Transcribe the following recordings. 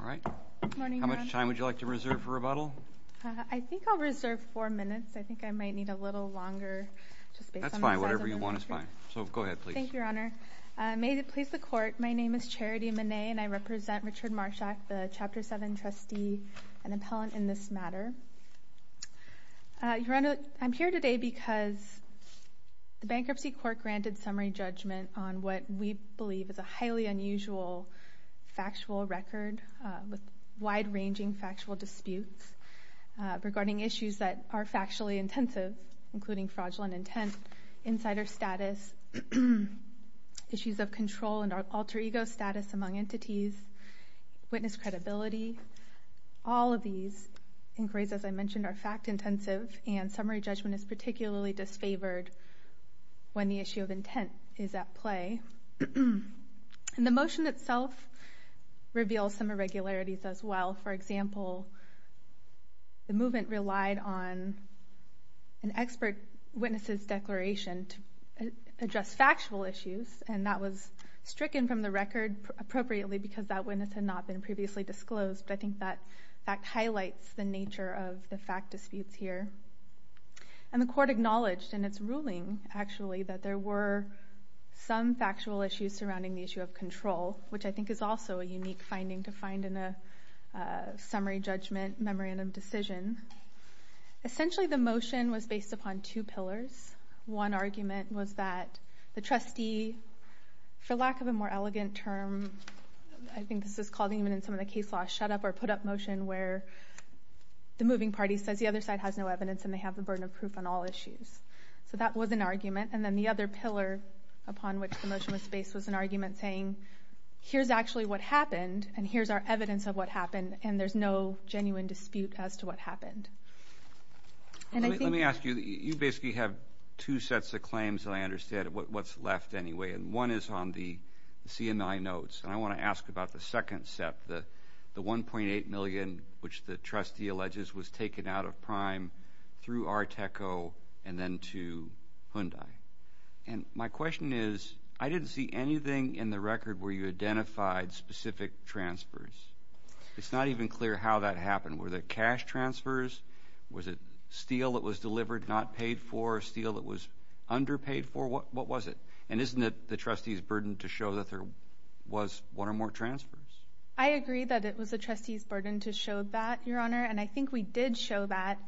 All right. How much time would you like to reserve for rebuttal? I think I'll reserve four minutes. I think I might need a little longer. That's fine. Whatever you want is fine. So go ahead, please. Thank you, Your Honor. May it please the Court, my name is Charity Manet, and I represent Richard Marshak, the Chapter 7 trustee and appellant in this matter. Your Honor, I'm here today because the Bankruptcy Court granted summary judgment on what we believe is a highly unusual factual record with wide-ranging factual disputes regarding issues that are factually intensive, including fraudulent intent, insider status, issues of control and alter ego status among entities, witness credibility. All of these inquiries, as I mentioned, are fact-intensive, and summary judgment is particularly disfavored when the issue of intent is at play. And the motion itself reveals some irregularities as well. For example, the movement relied on an expert witness's declaration to address factual issues, and that was stricken from the record appropriately because that witness had not been previously disclosed. But I think that fact highlights the nature of the fact disputes here. And the Court acknowledged in its ruling, actually, that there were some factual issues surrounding the issue of control, which I think is also a unique finding to find in a summary judgment memorandum decision. Essentially, the motion was based upon two pillars. One argument was that the trustee, for lack of a more elegant term, I think this is called even in some of the case law, shut up or put up motion, where the moving party says the other side has no evidence and they have the burden of proof on all issues. So that was an argument. And then the other pillar upon which the motion was based was an argument saying, here's actually what happened and here's our evidence of what happened, and there's no genuine dispute as to what happened. Let me ask you, you basically have two sets of claims that I understand, what's left anyway. And one is on the CMI notes, and I want to ask about the second set, the $1.8 million, which the trustee alleges was taken out of prime through Arteco and then to Hyundai. And my question is, I didn't see anything in the record where you identified specific transfers. It's not even clear how that happened. Were there cash transfers? Was it steel that was delivered not paid for, steel that was underpaid for? What was it? And isn't it the trustee's burden to show that there was one or more transfers? I agree that it was the trustee's burden to show that, Your Honor, and I think we did show that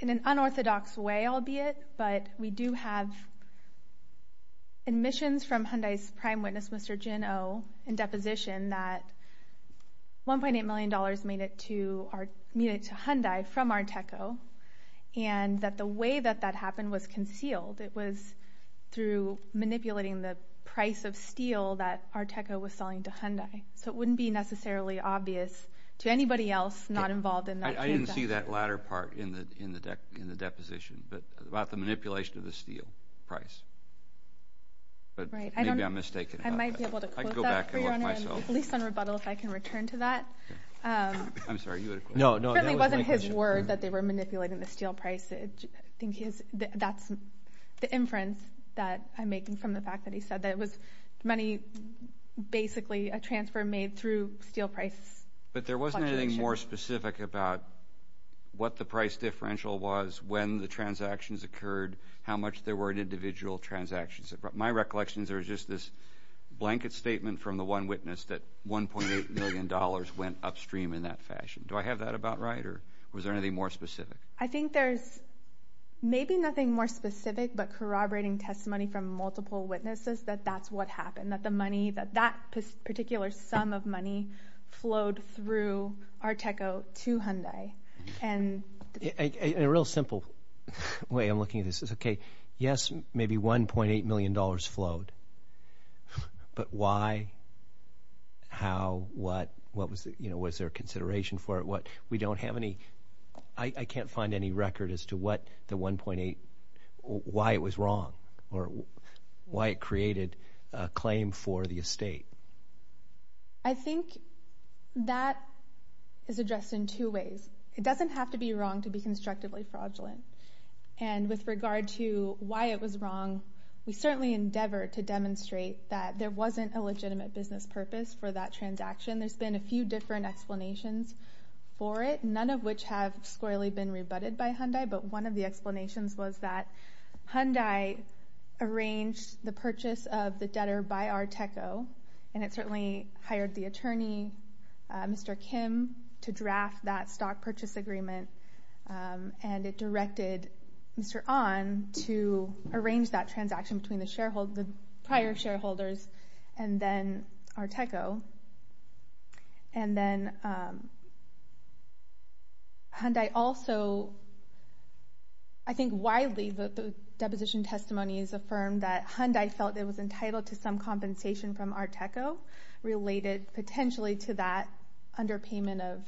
in an unorthodox way, albeit, but we do have admissions from Hyundai's prime witness, Mr. Jin Oh, in deposition that $1.8 million made it to Hyundai from Arteco, and that the way that that happened was concealed. It was through manipulating the price of steel that Arteco was selling to Hyundai. So it wouldn't be necessarily obvious to anybody else not involved in that transaction. I didn't see that latter part in the deposition, but about the manipulation of the steel price. But maybe I'm mistaken about that. I might be able to quote that for you, Your Honor, at least on rebuttal, if I can return to that. I'm sorry, you had a question. It certainly wasn't his word that they were manipulating the steel price. I think that's the inference that I'm making from the fact that he said that it was money, basically a transfer made through steel price. But there wasn't anything more specific about what the price differential was, when the transactions occurred, how much there were in individual transactions. My recollection is there was just this blanket statement from the one witness that $1.8 million went upstream in that fashion. Do I have that about right, or was there anything more specific? I think there's maybe nothing more specific but corroborating testimony from multiple witnesses that that's what happened, that the money, that that particular sum of money flowed through Arteco to Hyundai. In a real simple way I'm looking at this is, okay, yes, maybe $1.8 million flowed, but why, how, what, was there consideration for it? We don't have any, I can't find any record as to what the $1.8, why it was wrong or why it created a claim for the estate. I think that is addressed in two ways. It doesn't have to be wrong to be constructively fraudulent. And with regard to why it was wrong, we certainly endeavor to demonstrate that there wasn't a legitimate business purpose for that transaction. There's been a few different explanations for it, none of which have squarely been rebutted by Hyundai, but one of the explanations was that Hyundai arranged the purchase of the debtor by Arteco, and it certainly hired the attorney, Mr. Kim, to draft that stock purchase agreement, and it directed Mr. Ahn to arrange that transaction between the shareholders, the prior shareholders, and then Arteco. And then Hyundai also, I think widely the deposition testimony is affirmed that Hyundai felt it was entitled to some compensation from Arteco related potentially to that underpayment of,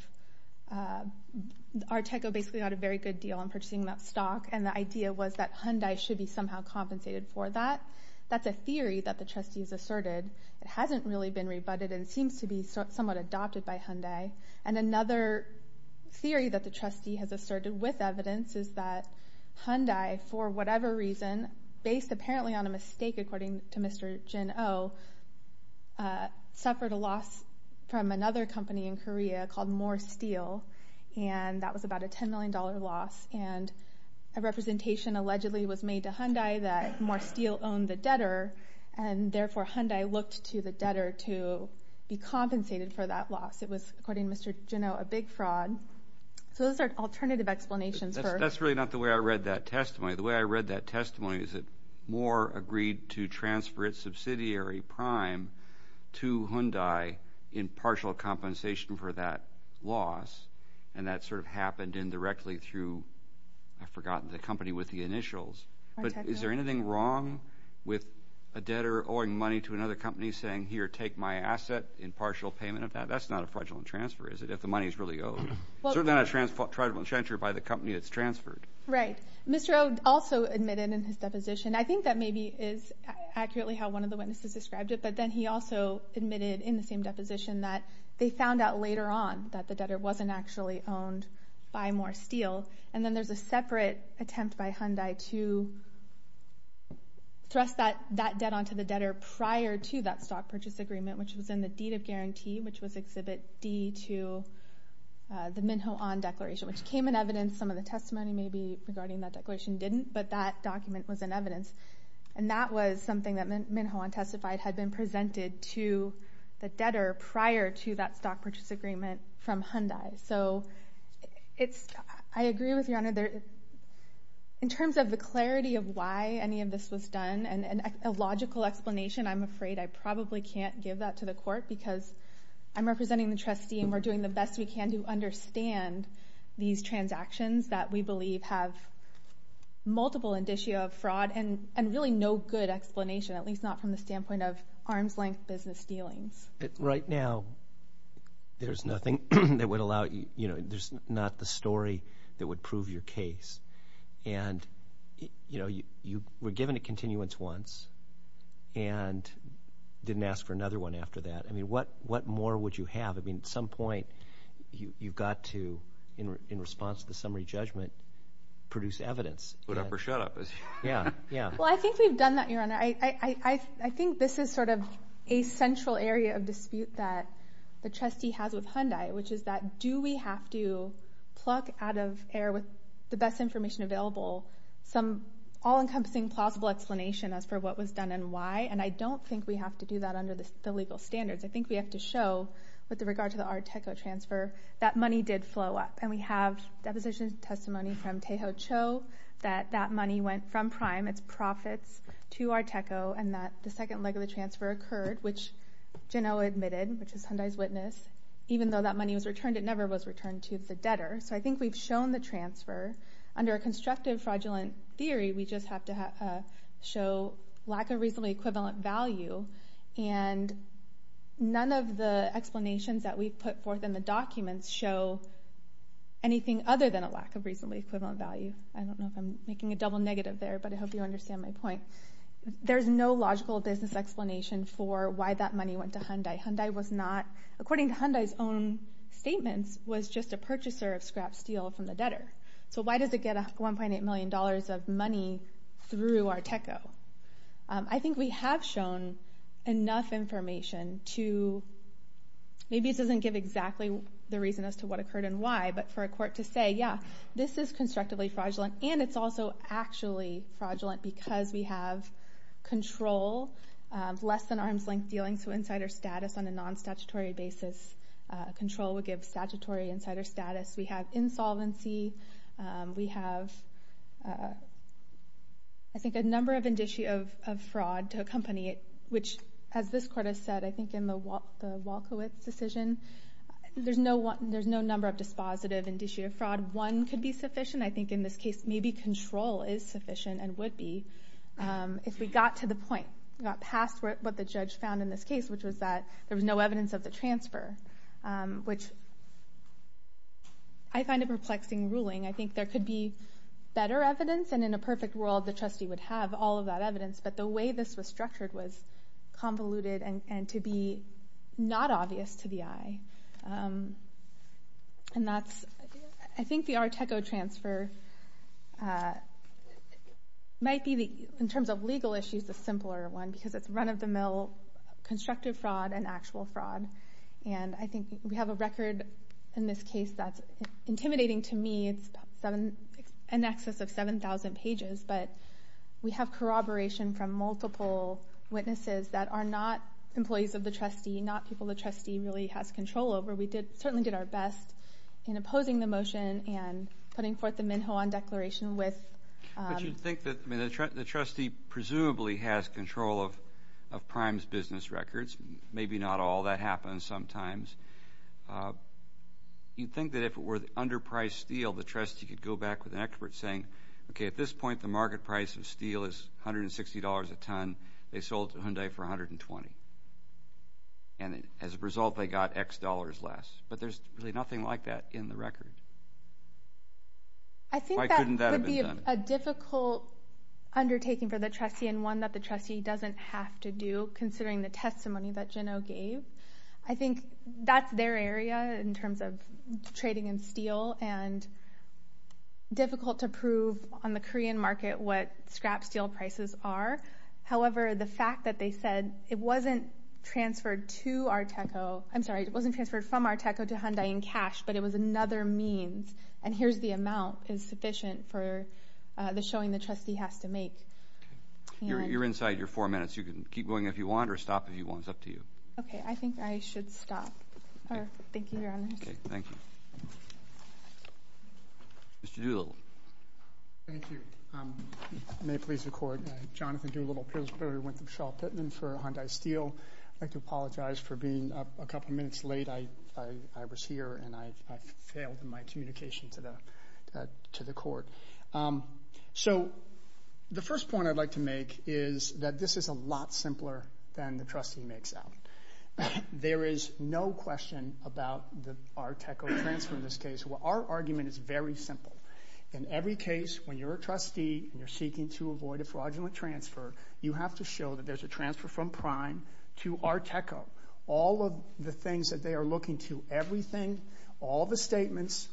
Arteco basically got a very good deal on purchasing that stock, and the idea was that Hyundai should be somehow compensated for that. That's a theory that the trustee has asserted. It hasn't really been rebutted and seems to be somewhat adopted by Hyundai. And another theory that the trustee has asserted with evidence is that Hyundai, for whatever reason, based apparently on a mistake according to Mr. Jin Oh, suffered a loss from another company in Korea called More Steel, and that was about a $10 million loss. And a representation allegedly was made to Hyundai that More Steel owned the debtor, and therefore Hyundai looked to the debtor to be compensated for that loss. It was, according to Mr. Jin Oh, a big fraud. So those are alternative explanations for – That's really not the way I read that testimony. The way I read that testimony is that More agreed to transfer its subsidiary prime to Hyundai in partial compensation for that loss, and that sort of happened indirectly through – I've forgotten the company with the initials. But is there anything wrong with a debtor owing money to another company saying, here, take my asset in partial payment of that? That's not a fraudulent transfer, is it, if the money is really owed? Certainly not a fraudulent transfer by the company that's transferred. Right. Mr. Oh also admitted in his deposition – I think that maybe is accurately how one of the witnesses described it, but then he also admitted in the same deposition that they found out later on that the debtor wasn't actually owned by More Steel. And then there's a separate attempt by Hyundai to thrust that debt onto the debtor prior to that stock purchase agreement, which was in the deed of guarantee, which was Exhibit D to the Minho Ahn Declaration, which came in evidence. Some of the testimony maybe regarding that declaration didn't, but that document was in evidence. And that was something that Minho Ahn testified had been presented to the debtor prior to that stock purchase agreement from Hyundai. So I agree with Your Honor. In terms of the clarity of why any of this was done, and a logical explanation, I'm afraid I probably can't give that to the court because I'm representing the trustee and we're doing the best we can to understand these transactions that we believe have multiple indicia of fraud and really no good explanation, at least not from the standpoint of arm's-length business dealings. Right now there's nothing that would allow you, you know, there's not the story that would prove your case. And, you know, you were given a continuance once and didn't ask for another one after that. I mean, what more would you have? I mean, at some point you've got to, in response to the summary judgment, produce evidence. Put up or shut up. Well, I think we've done that, Your Honor. I think this is sort of a central area of dispute that the trustee has with Hyundai, which is that do we have to pluck out of air with the best information available some all-encompassing, plausible explanation as for what was done and why? And I don't think we have to do that under the legal standards. I think we have to show, with regard to the Arteco transfer, that money did flow up. And we have deposition testimony from Taeho Cho that that money went from Prime, its profits, to Arteco and that the second leg of the transfer occurred, which Jinho admitted, which is Hyundai's witness. Even though that money was returned, it never was returned to the debtor. So I think we've shown the transfer. Under a constructive fraudulent theory, we just have to show lack of reasonably equivalent value. And none of the explanations that we've put forth in the documents show anything other than a lack of reasonably equivalent value. I don't know if I'm making a double negative there, but I hope you understand my point. There's no logical business explanation for why that money went to Hyundai. Hyundai was not, according to Hyundai's own statements, was just a purchaser of scrap steel from the debtor. So why does it get $1.8 million of money through Arteco? I think we have shown enough information to... Maybe this doesn't give exactly the reason as to what occurred and why, but for a court to say, yeah, this is constructively fraudulent and it's also actually fraudulent because we have control, less-than-arm's-length dealing, so insider status on a non-statutory basis. Control would give statutory insider status. We have insolvency. We have, I think, a number of indicia of fraud to accompany it, which, as this court has said, I think in the Walkowitz decision, there's no number of dispositive indicia of fraud. One could be sufficient. I think in this case maybe control is sufficient and would be if we got to the point, got past what the judge found in this case, which was that there was no evidence of the transfer, which I find a perplexing ruling. I think there could be better evidence, and in a perfect world, the trustee would have all of that evidence, but the way this was structured was convoluted and to be not obvious to the eye. And that's, I think the Arteco transfer might be, in terms of legal issues, the simpler one because it's run-of-the-mill constructive fraud and actual fraud, and I think we have a record in this case that's intimidating to me. It's an excess of 7,000 pages, but we have corroboration from multiple witnesses that are not employees of the trustee, not people the trustee really has control over. We certainly did our best in opposing the motion and putting forth the Minhoan Declaration with... But you'd think that, I mean, the trustee presumably has control of Prime's business records. Maybe not all that happens sometimes. You'd think that if it were underpriced steel, the trustee could go back with an expert saying, okay, at this point, the market price of steel is $160 a ton. They sold it to Hyundai for $120, and as a result, they got X dollars less. But there's really nothing like that in the record. Why couldn't that have been done? I think that would be a difficult undertaking for the trustee and one that the trustee doesn't have to do, considering the testimony that Jeno gave. I think that's their area in terms of trading in steel and difficult to prove on the Korean market what scrap steel prices are. However, the fact that they said it wasn't transferred to Arteco, I'm sorry, it wasn't transferred from Arteco to Hyundai in cash, but it was another means, and here's the amount is sufficient for the showing the trustee has to make. You're inside your four minutes. You can keep going if you want or stop if you want. It's up to you. Okay. I think I should stop. Thank you, Your Honors. Okay. Thank you. Mr. Doolittle. Thank you. May it please the Court, Jonathan Doolittle, Pillsbury Winthrop Shaw Pittman for Hyundai Steel. I'd like to apologize for being up a couple minutes late. I was here, and I failed in my communication to the Court. So the first point I'd like to make is that this is a lot simpler than the trustee makes out. There is no question about the Arteco transfer in this case. Our argument is very simple. In every case, when you're a trustee and you're seeking to avoid a fraudulent transfer, you have to show that there's a transfer from Prime to Arteco. All of the things that they are looking to, everything, all the statements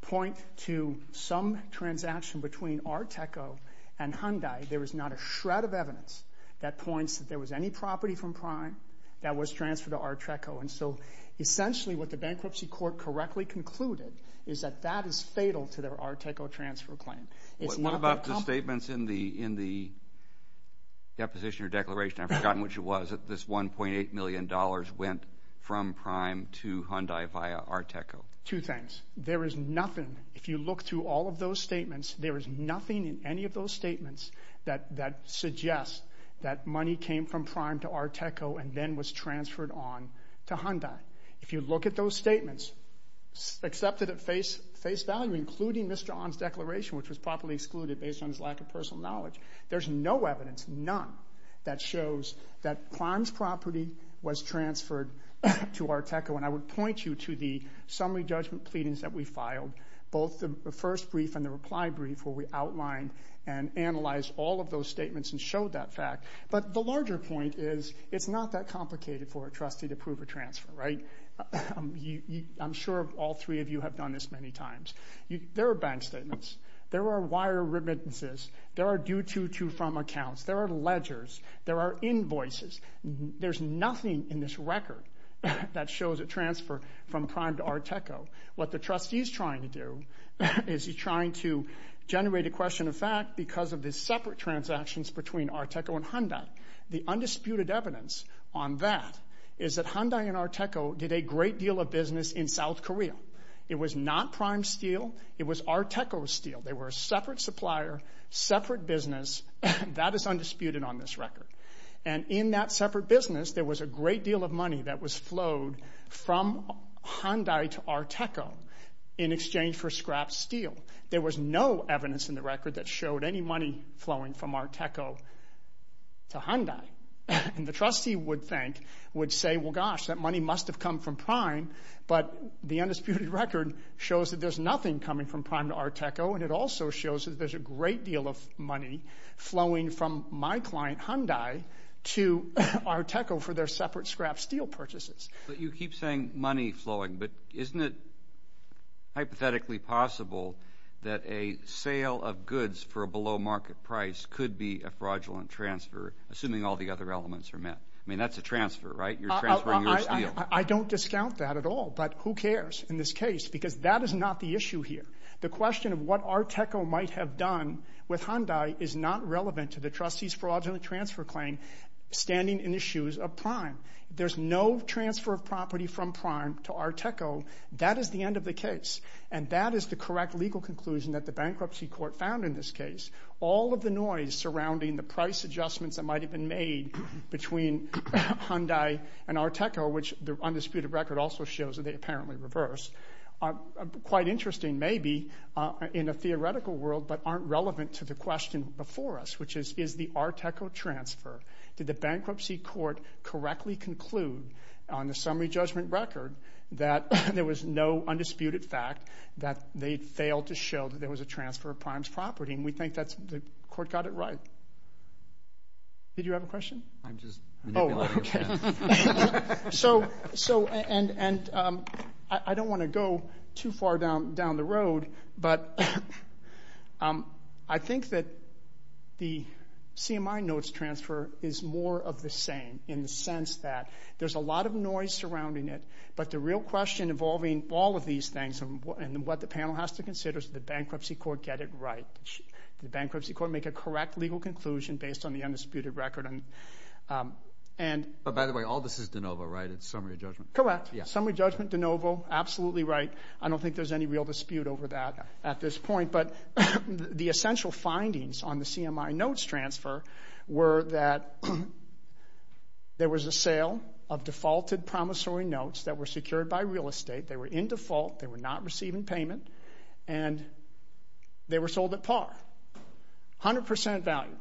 point to some transaction between Arteco and Hyundai. There is not a shred of evidence that points that there was any property from Prime that was transferred to Arteco. And so essentially what the bankruptcy court correctly concluded is that that is fatal to their Arteco transfer claim. What about the statements in the deposition or declaration? I've forgotten which it was. This $1.8 million went from Prime to Hyundai via Arteco. Two things. There is nothing, if you look through all of those statements, there is nothing in any of those statements that suggests that money came from Prime to Arteco and then was transferred on to Hyundai. If you look at those statements, accepted at face value, including Mr. Ahn's declaration, which was properly excluded based on his lack of personal knowledge, there's no evidence, none, that shows that Prime's property was transferred to Arteco. And I would point you to the summary judgment pleadings that we filed, both the first brief and the reply brief where we outlined and analyzed all of those statements and showed that fact. But the larger point is it's not that complicated for a trustee to prove a transfer, right? I'm sure all three of you have done this many times. There are bank statements. There are wire remittances. There are due to, to, from accounts. There are ledgers. There are invoices. There's nothing in this record that shows a transfer from Prime to Arteco. What the trustee is trying to do is he's trying to generate a question of fact because of the separate transactions between Arteco and Hyundai. The undisputed evidence on that is that Hyundai and Arteco did a great deal of business in South Korea. It was not Prime's steal. It was Arteco's steal. They were a separate supplier, separate business. That is undisputed on this record. And in that separate business, there was a great deal of money that was flowed from Hyundai to Arteco in exchange for scrapped steel. There was no evidence in the record that showed any money flowing from Arteco to Hyundai. And the trustee would think, would say, well, gosh, that money must have come from Prime. But the undisputed record shows that there's nothing coming from Prime to Arteco, and it also shows that there's a great deal of money flowing from my client Hyundai to Arteco for their separate scrapped steel purchases. But you keep saying money flowing, but isn't it hypothetically possible that a sale of goods for a below market price could be a fraudulent transfer, assuming all the other elements are met? I mean, that's a transfer, right? You're transferring your steel. I don't discount that at all, but who cares in this case because that is not the issue here. The question of what Arteco might have done with Hyundai is not relevant to the trustee's fraudulent transfer claim standing in the shoes of Prime. If there's no transfer of property from Prime to Arteco, that is the end of the case, and that is the correct legal conclusion that the bankruptcy court found in this case. All of the noise surrounding the price adjustments that might have been made between Hyundai and Arteco, which the undisputed record also shows that they apparently reversed, are quite interesting maybe in a theoretical world but aren't relevant to the question before us, which is, is the Arteco transfer, did the bankruptcy court correctly conclude on the summary judgment record that there was no undisputed fact that they failed to show that there was a transfer of Prime's property, and we think that the court got it right. Did you have a question? I'm just manipulating the panel. I don't want to go too far down the road, but I think that the CMI notes transfer is more of the same in the sense that there's a lot of noise surrounding it, but the real question involving all of these things and what the panel has to consider is did the bankruptcy court get it right? Did the bankruptcy court make a correct legal conclusion based on the undisputed record? By the way, all this is de novo, right? It's summary judgment. Correct. Summary judgment, de novo, absolutely right. I don't think there's any real dispute over that at this point, but the essential findings on the CMI notes transfer were that there was a sale of defaulted promissory notes that were secured by real estate. They were in default. They were not receiving payment, and they were sold at par, 100% value.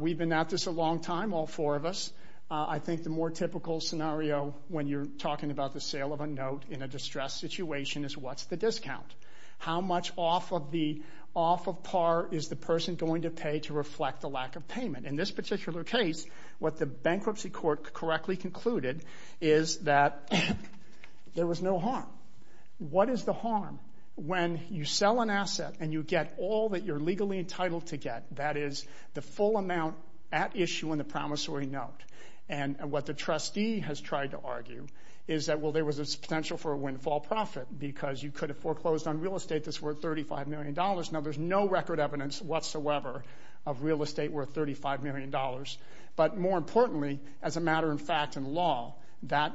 We've been at this a long time, all four of us. I think the more typical scenario when you're talking about the sale of a note in a distressed situation is what's the discount? How much off of par is the person going to pay to reflect the lack of payment? In this particular case, what the bankruptcy court correctly concluded is that there was no harm. What is the harm? When you sell an asset and you get all that you're legally entitled to get, that is the full amount at issue in the promissory note, and what the trustee has tried to argue is that, well, there was a potential for a windfall profit because you could have foreclosed on real estate that's worth $35 million. Now, there's no record evidence whatsoever of real estate worth $35 million, but more importantly, as a matter of fact in law, that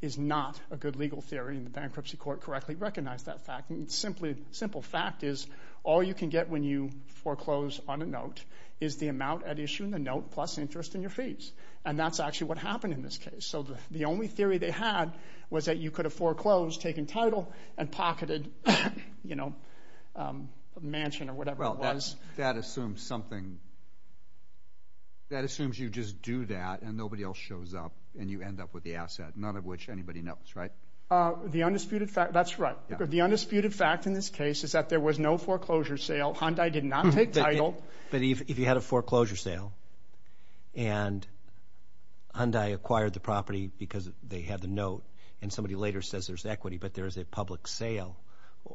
is not a good legal theory, and the bankruptcy court correctly recognized that fact. A simple fact is all you can get when you foreclose on a note is the amount at issue in the note plus interest in your fees, and that's actually what happened in this case. So the only theory they had was that you could have foreclosed, taken title, and pocketed a mansion or whatever it was. That assumes you just do that and nobody else shows up and you end up with the asset, none of which anybody knows, right? That's right. The undisputed fact in this case is that there was no foreclosure sale. Hyundai did not take title. But if you had a foreclosure sale and Hyundai acquired the property because they had the note and somebody later says there's equity but there is a public sale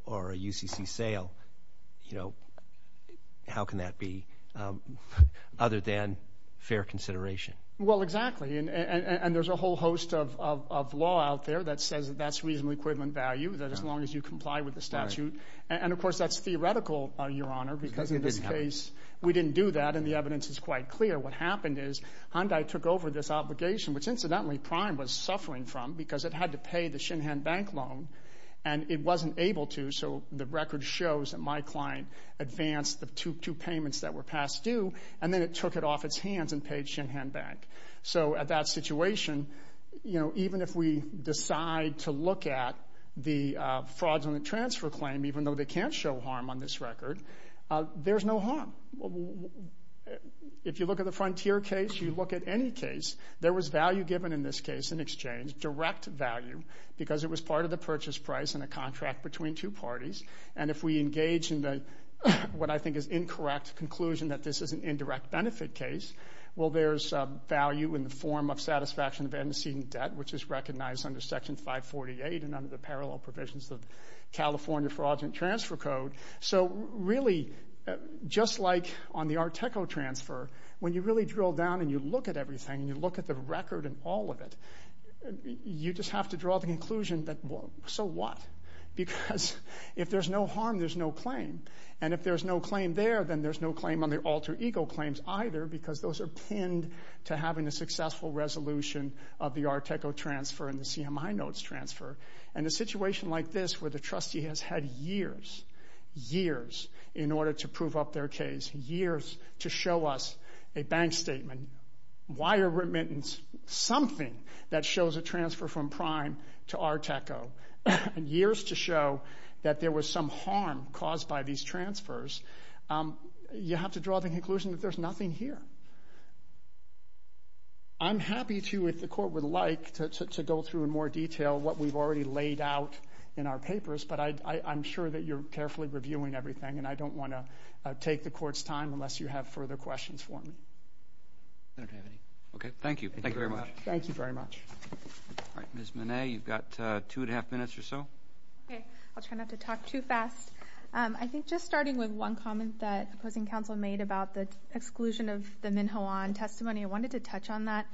or a UCC sale, how can that be other than fair consideration? Well, exactly, and there's a whole host of law out there that says that that's reasonably equivalent value, that as long as you comply with the statute. And, of course, that's theoretical, Your Honor, because in this case we didn't do that and the evidence is quite clear. What happened is Hyundai took over this obligation, which incidentally Prime was suffering from because it had to pay the Shinhan Bank loan and it wasn't able to, so the record shows that my client advanced the two payments that were past due, and then it took it off its hands and paid Shinhan Bank. So at that situation, even if we decide to look at the fraudulent transfer claim, even though they can't show harm on this record, there's no harm. If you look at the Frontier case, you look at any case, there was value given in this case in exchange, direct value, because it was part of the purchase price in a contract between two parties. And if we engage in what I think is incorrect conclusion that this is an indirect benefit case, well, there's value in the form of satisfaction of antecedent debt, which is recognized under Section 548 and under the parallel provisions of California Fraudulent Transfer Code. So really, just like on the Arteco transfer, when you really drill down and you look at everything and you look at the record and all of it, you just have to draw the conclusion that so what? Because if there's no harm, there's no claim. And if there's no claim there, then there's no claim on the alter ego claims either because those are pinned to having a successful resolution of the Arteco transfer and the CMI notes transfer. And a situation like this where the trustee has had years, years, in order to prove up their case, years to show us a bank statement, wire remittance, something that shows a transfer from Prime to Arteco, and years to show that there was some harm caused by these transfers, you have to draw the conclusion that there's nothing here. I'm happy to, if the court would like, to go through in more detail what we've already laid out in our papers, but I'm sure that you're carefully reviewing everything, and I don't want to take the court's time unless you have further questions for me. I don't have any. Okay. Thank you. Thank you very much. Thank you very much. All right. Ms. Manet, you've got two and a half minutes or so. Okay. I'll try not to talk too fast. I think just starting with one comment that opposing counsel made about the exclusion of the Minhoan testimony, I wanted to touch on that.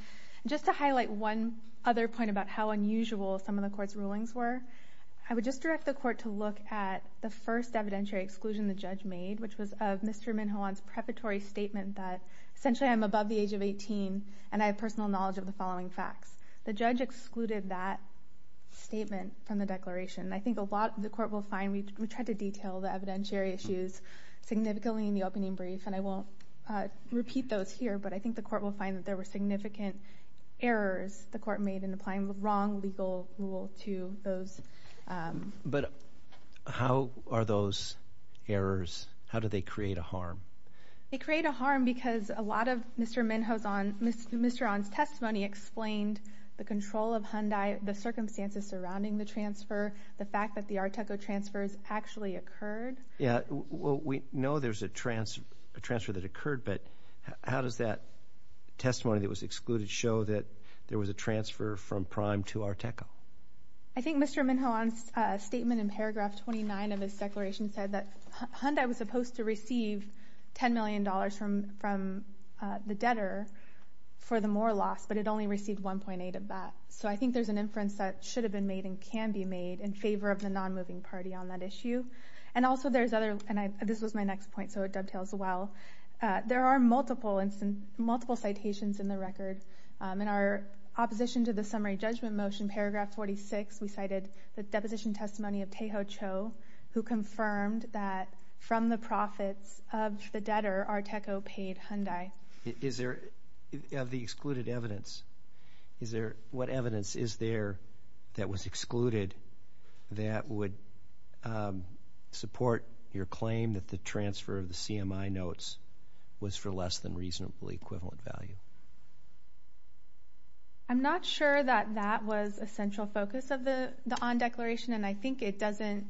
Just to highlight one other point about how unusual some of the court's rulings were, I would just direct the court to look at the first evidentiary exclusion the judge made, which was of Mr. Minhoan's preparatory statement that, essentially, I'm above the age of 18 and I have personal knowledge of the following facts. The judge excluded that statement from the declaration. I think a lot of the court will find we tried to detail the evidentiary issues significantly in the opening brief, and I won't repeat those here, but I think the court will find that there were significant errors the court made in applying the wrong legal rule to those. But how are those errors? How do they create a harm? They create a harm because a lot of Mr. Minhoan's testimony explained the control of Hyundai, the circumstances surrounding the transfer, the fact that the Arteco transfers actually occurred. Yes. Well, we know there's a transfer that occurred, but how does that testimony that was excluded show that there was a transfer from Prime to Arteco? I think Mr. Minhoan's statement in paragraph 29 of his declaration said that Hyundai was supposed to receive $10 million from the debtor for the Moore loss, but it only received $1.8 of that. So I think there's an inference that should have been made and can be made in favor of the non-moving party on that issue. And also there's other, and this was my next point, so it dovetails well. There are multiple citations in the record. In our opposition to the summary judgment motion, paragraph 46, we cited the deposition testimony of Taeho Cho, who confirmed that from the profits of the debtor, Arteco paid Hyundai. Is there, of the excluded evidence, what evidence is there that was excluded that would support your claim that the transfer of the CMI notes was for less than reasonably equivalent value? I'm not sure that that was a central focus of the on declaration, and I think it doesn't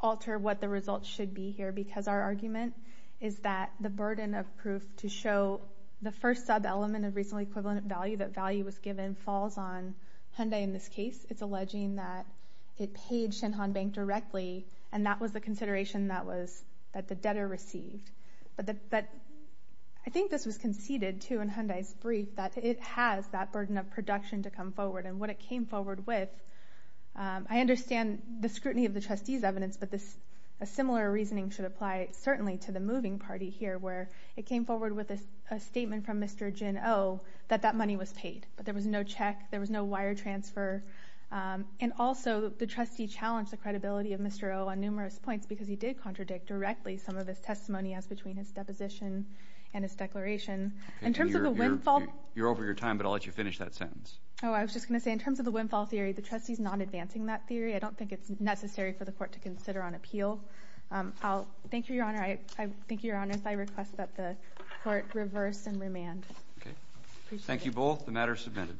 alter what the results should be here because our argument is that the burden of proof to show the first sub-element of reasonably equivalent value, that value was given, falls on Hyundai in this case. It's alleging that it paid Shinhan Bank directly, and that was the consideration that the debtor received. I think this was conceded, too, in Hyundai's brief, that it has that burden of production to come forward. And what it came forward with, I understand the scrutiny of the trustee's evidence, but a similar reasoning should apply certainly to the moving party here where it came forward with a statement from Mr. Jin Oh that that money was paid, but there was no check, there was no wire transfer, and also the trustee challenged the credibility of Mr. Oh on numerous points because he did contradict directly some of his testimony as between his deposition and his declaration. In terms of the windfall— You're over your time, but I'll let you finish that sentence. Oh, I was just going to say, in terms of the windfall theory, the trustee's not advancing that theory. I don't think it's necessary for the court to consider on appeal. Thank you, Your Honor. I think, Your Honor, if I request that the court reverse and remand. Okay. Thank you both. The matter is submitted.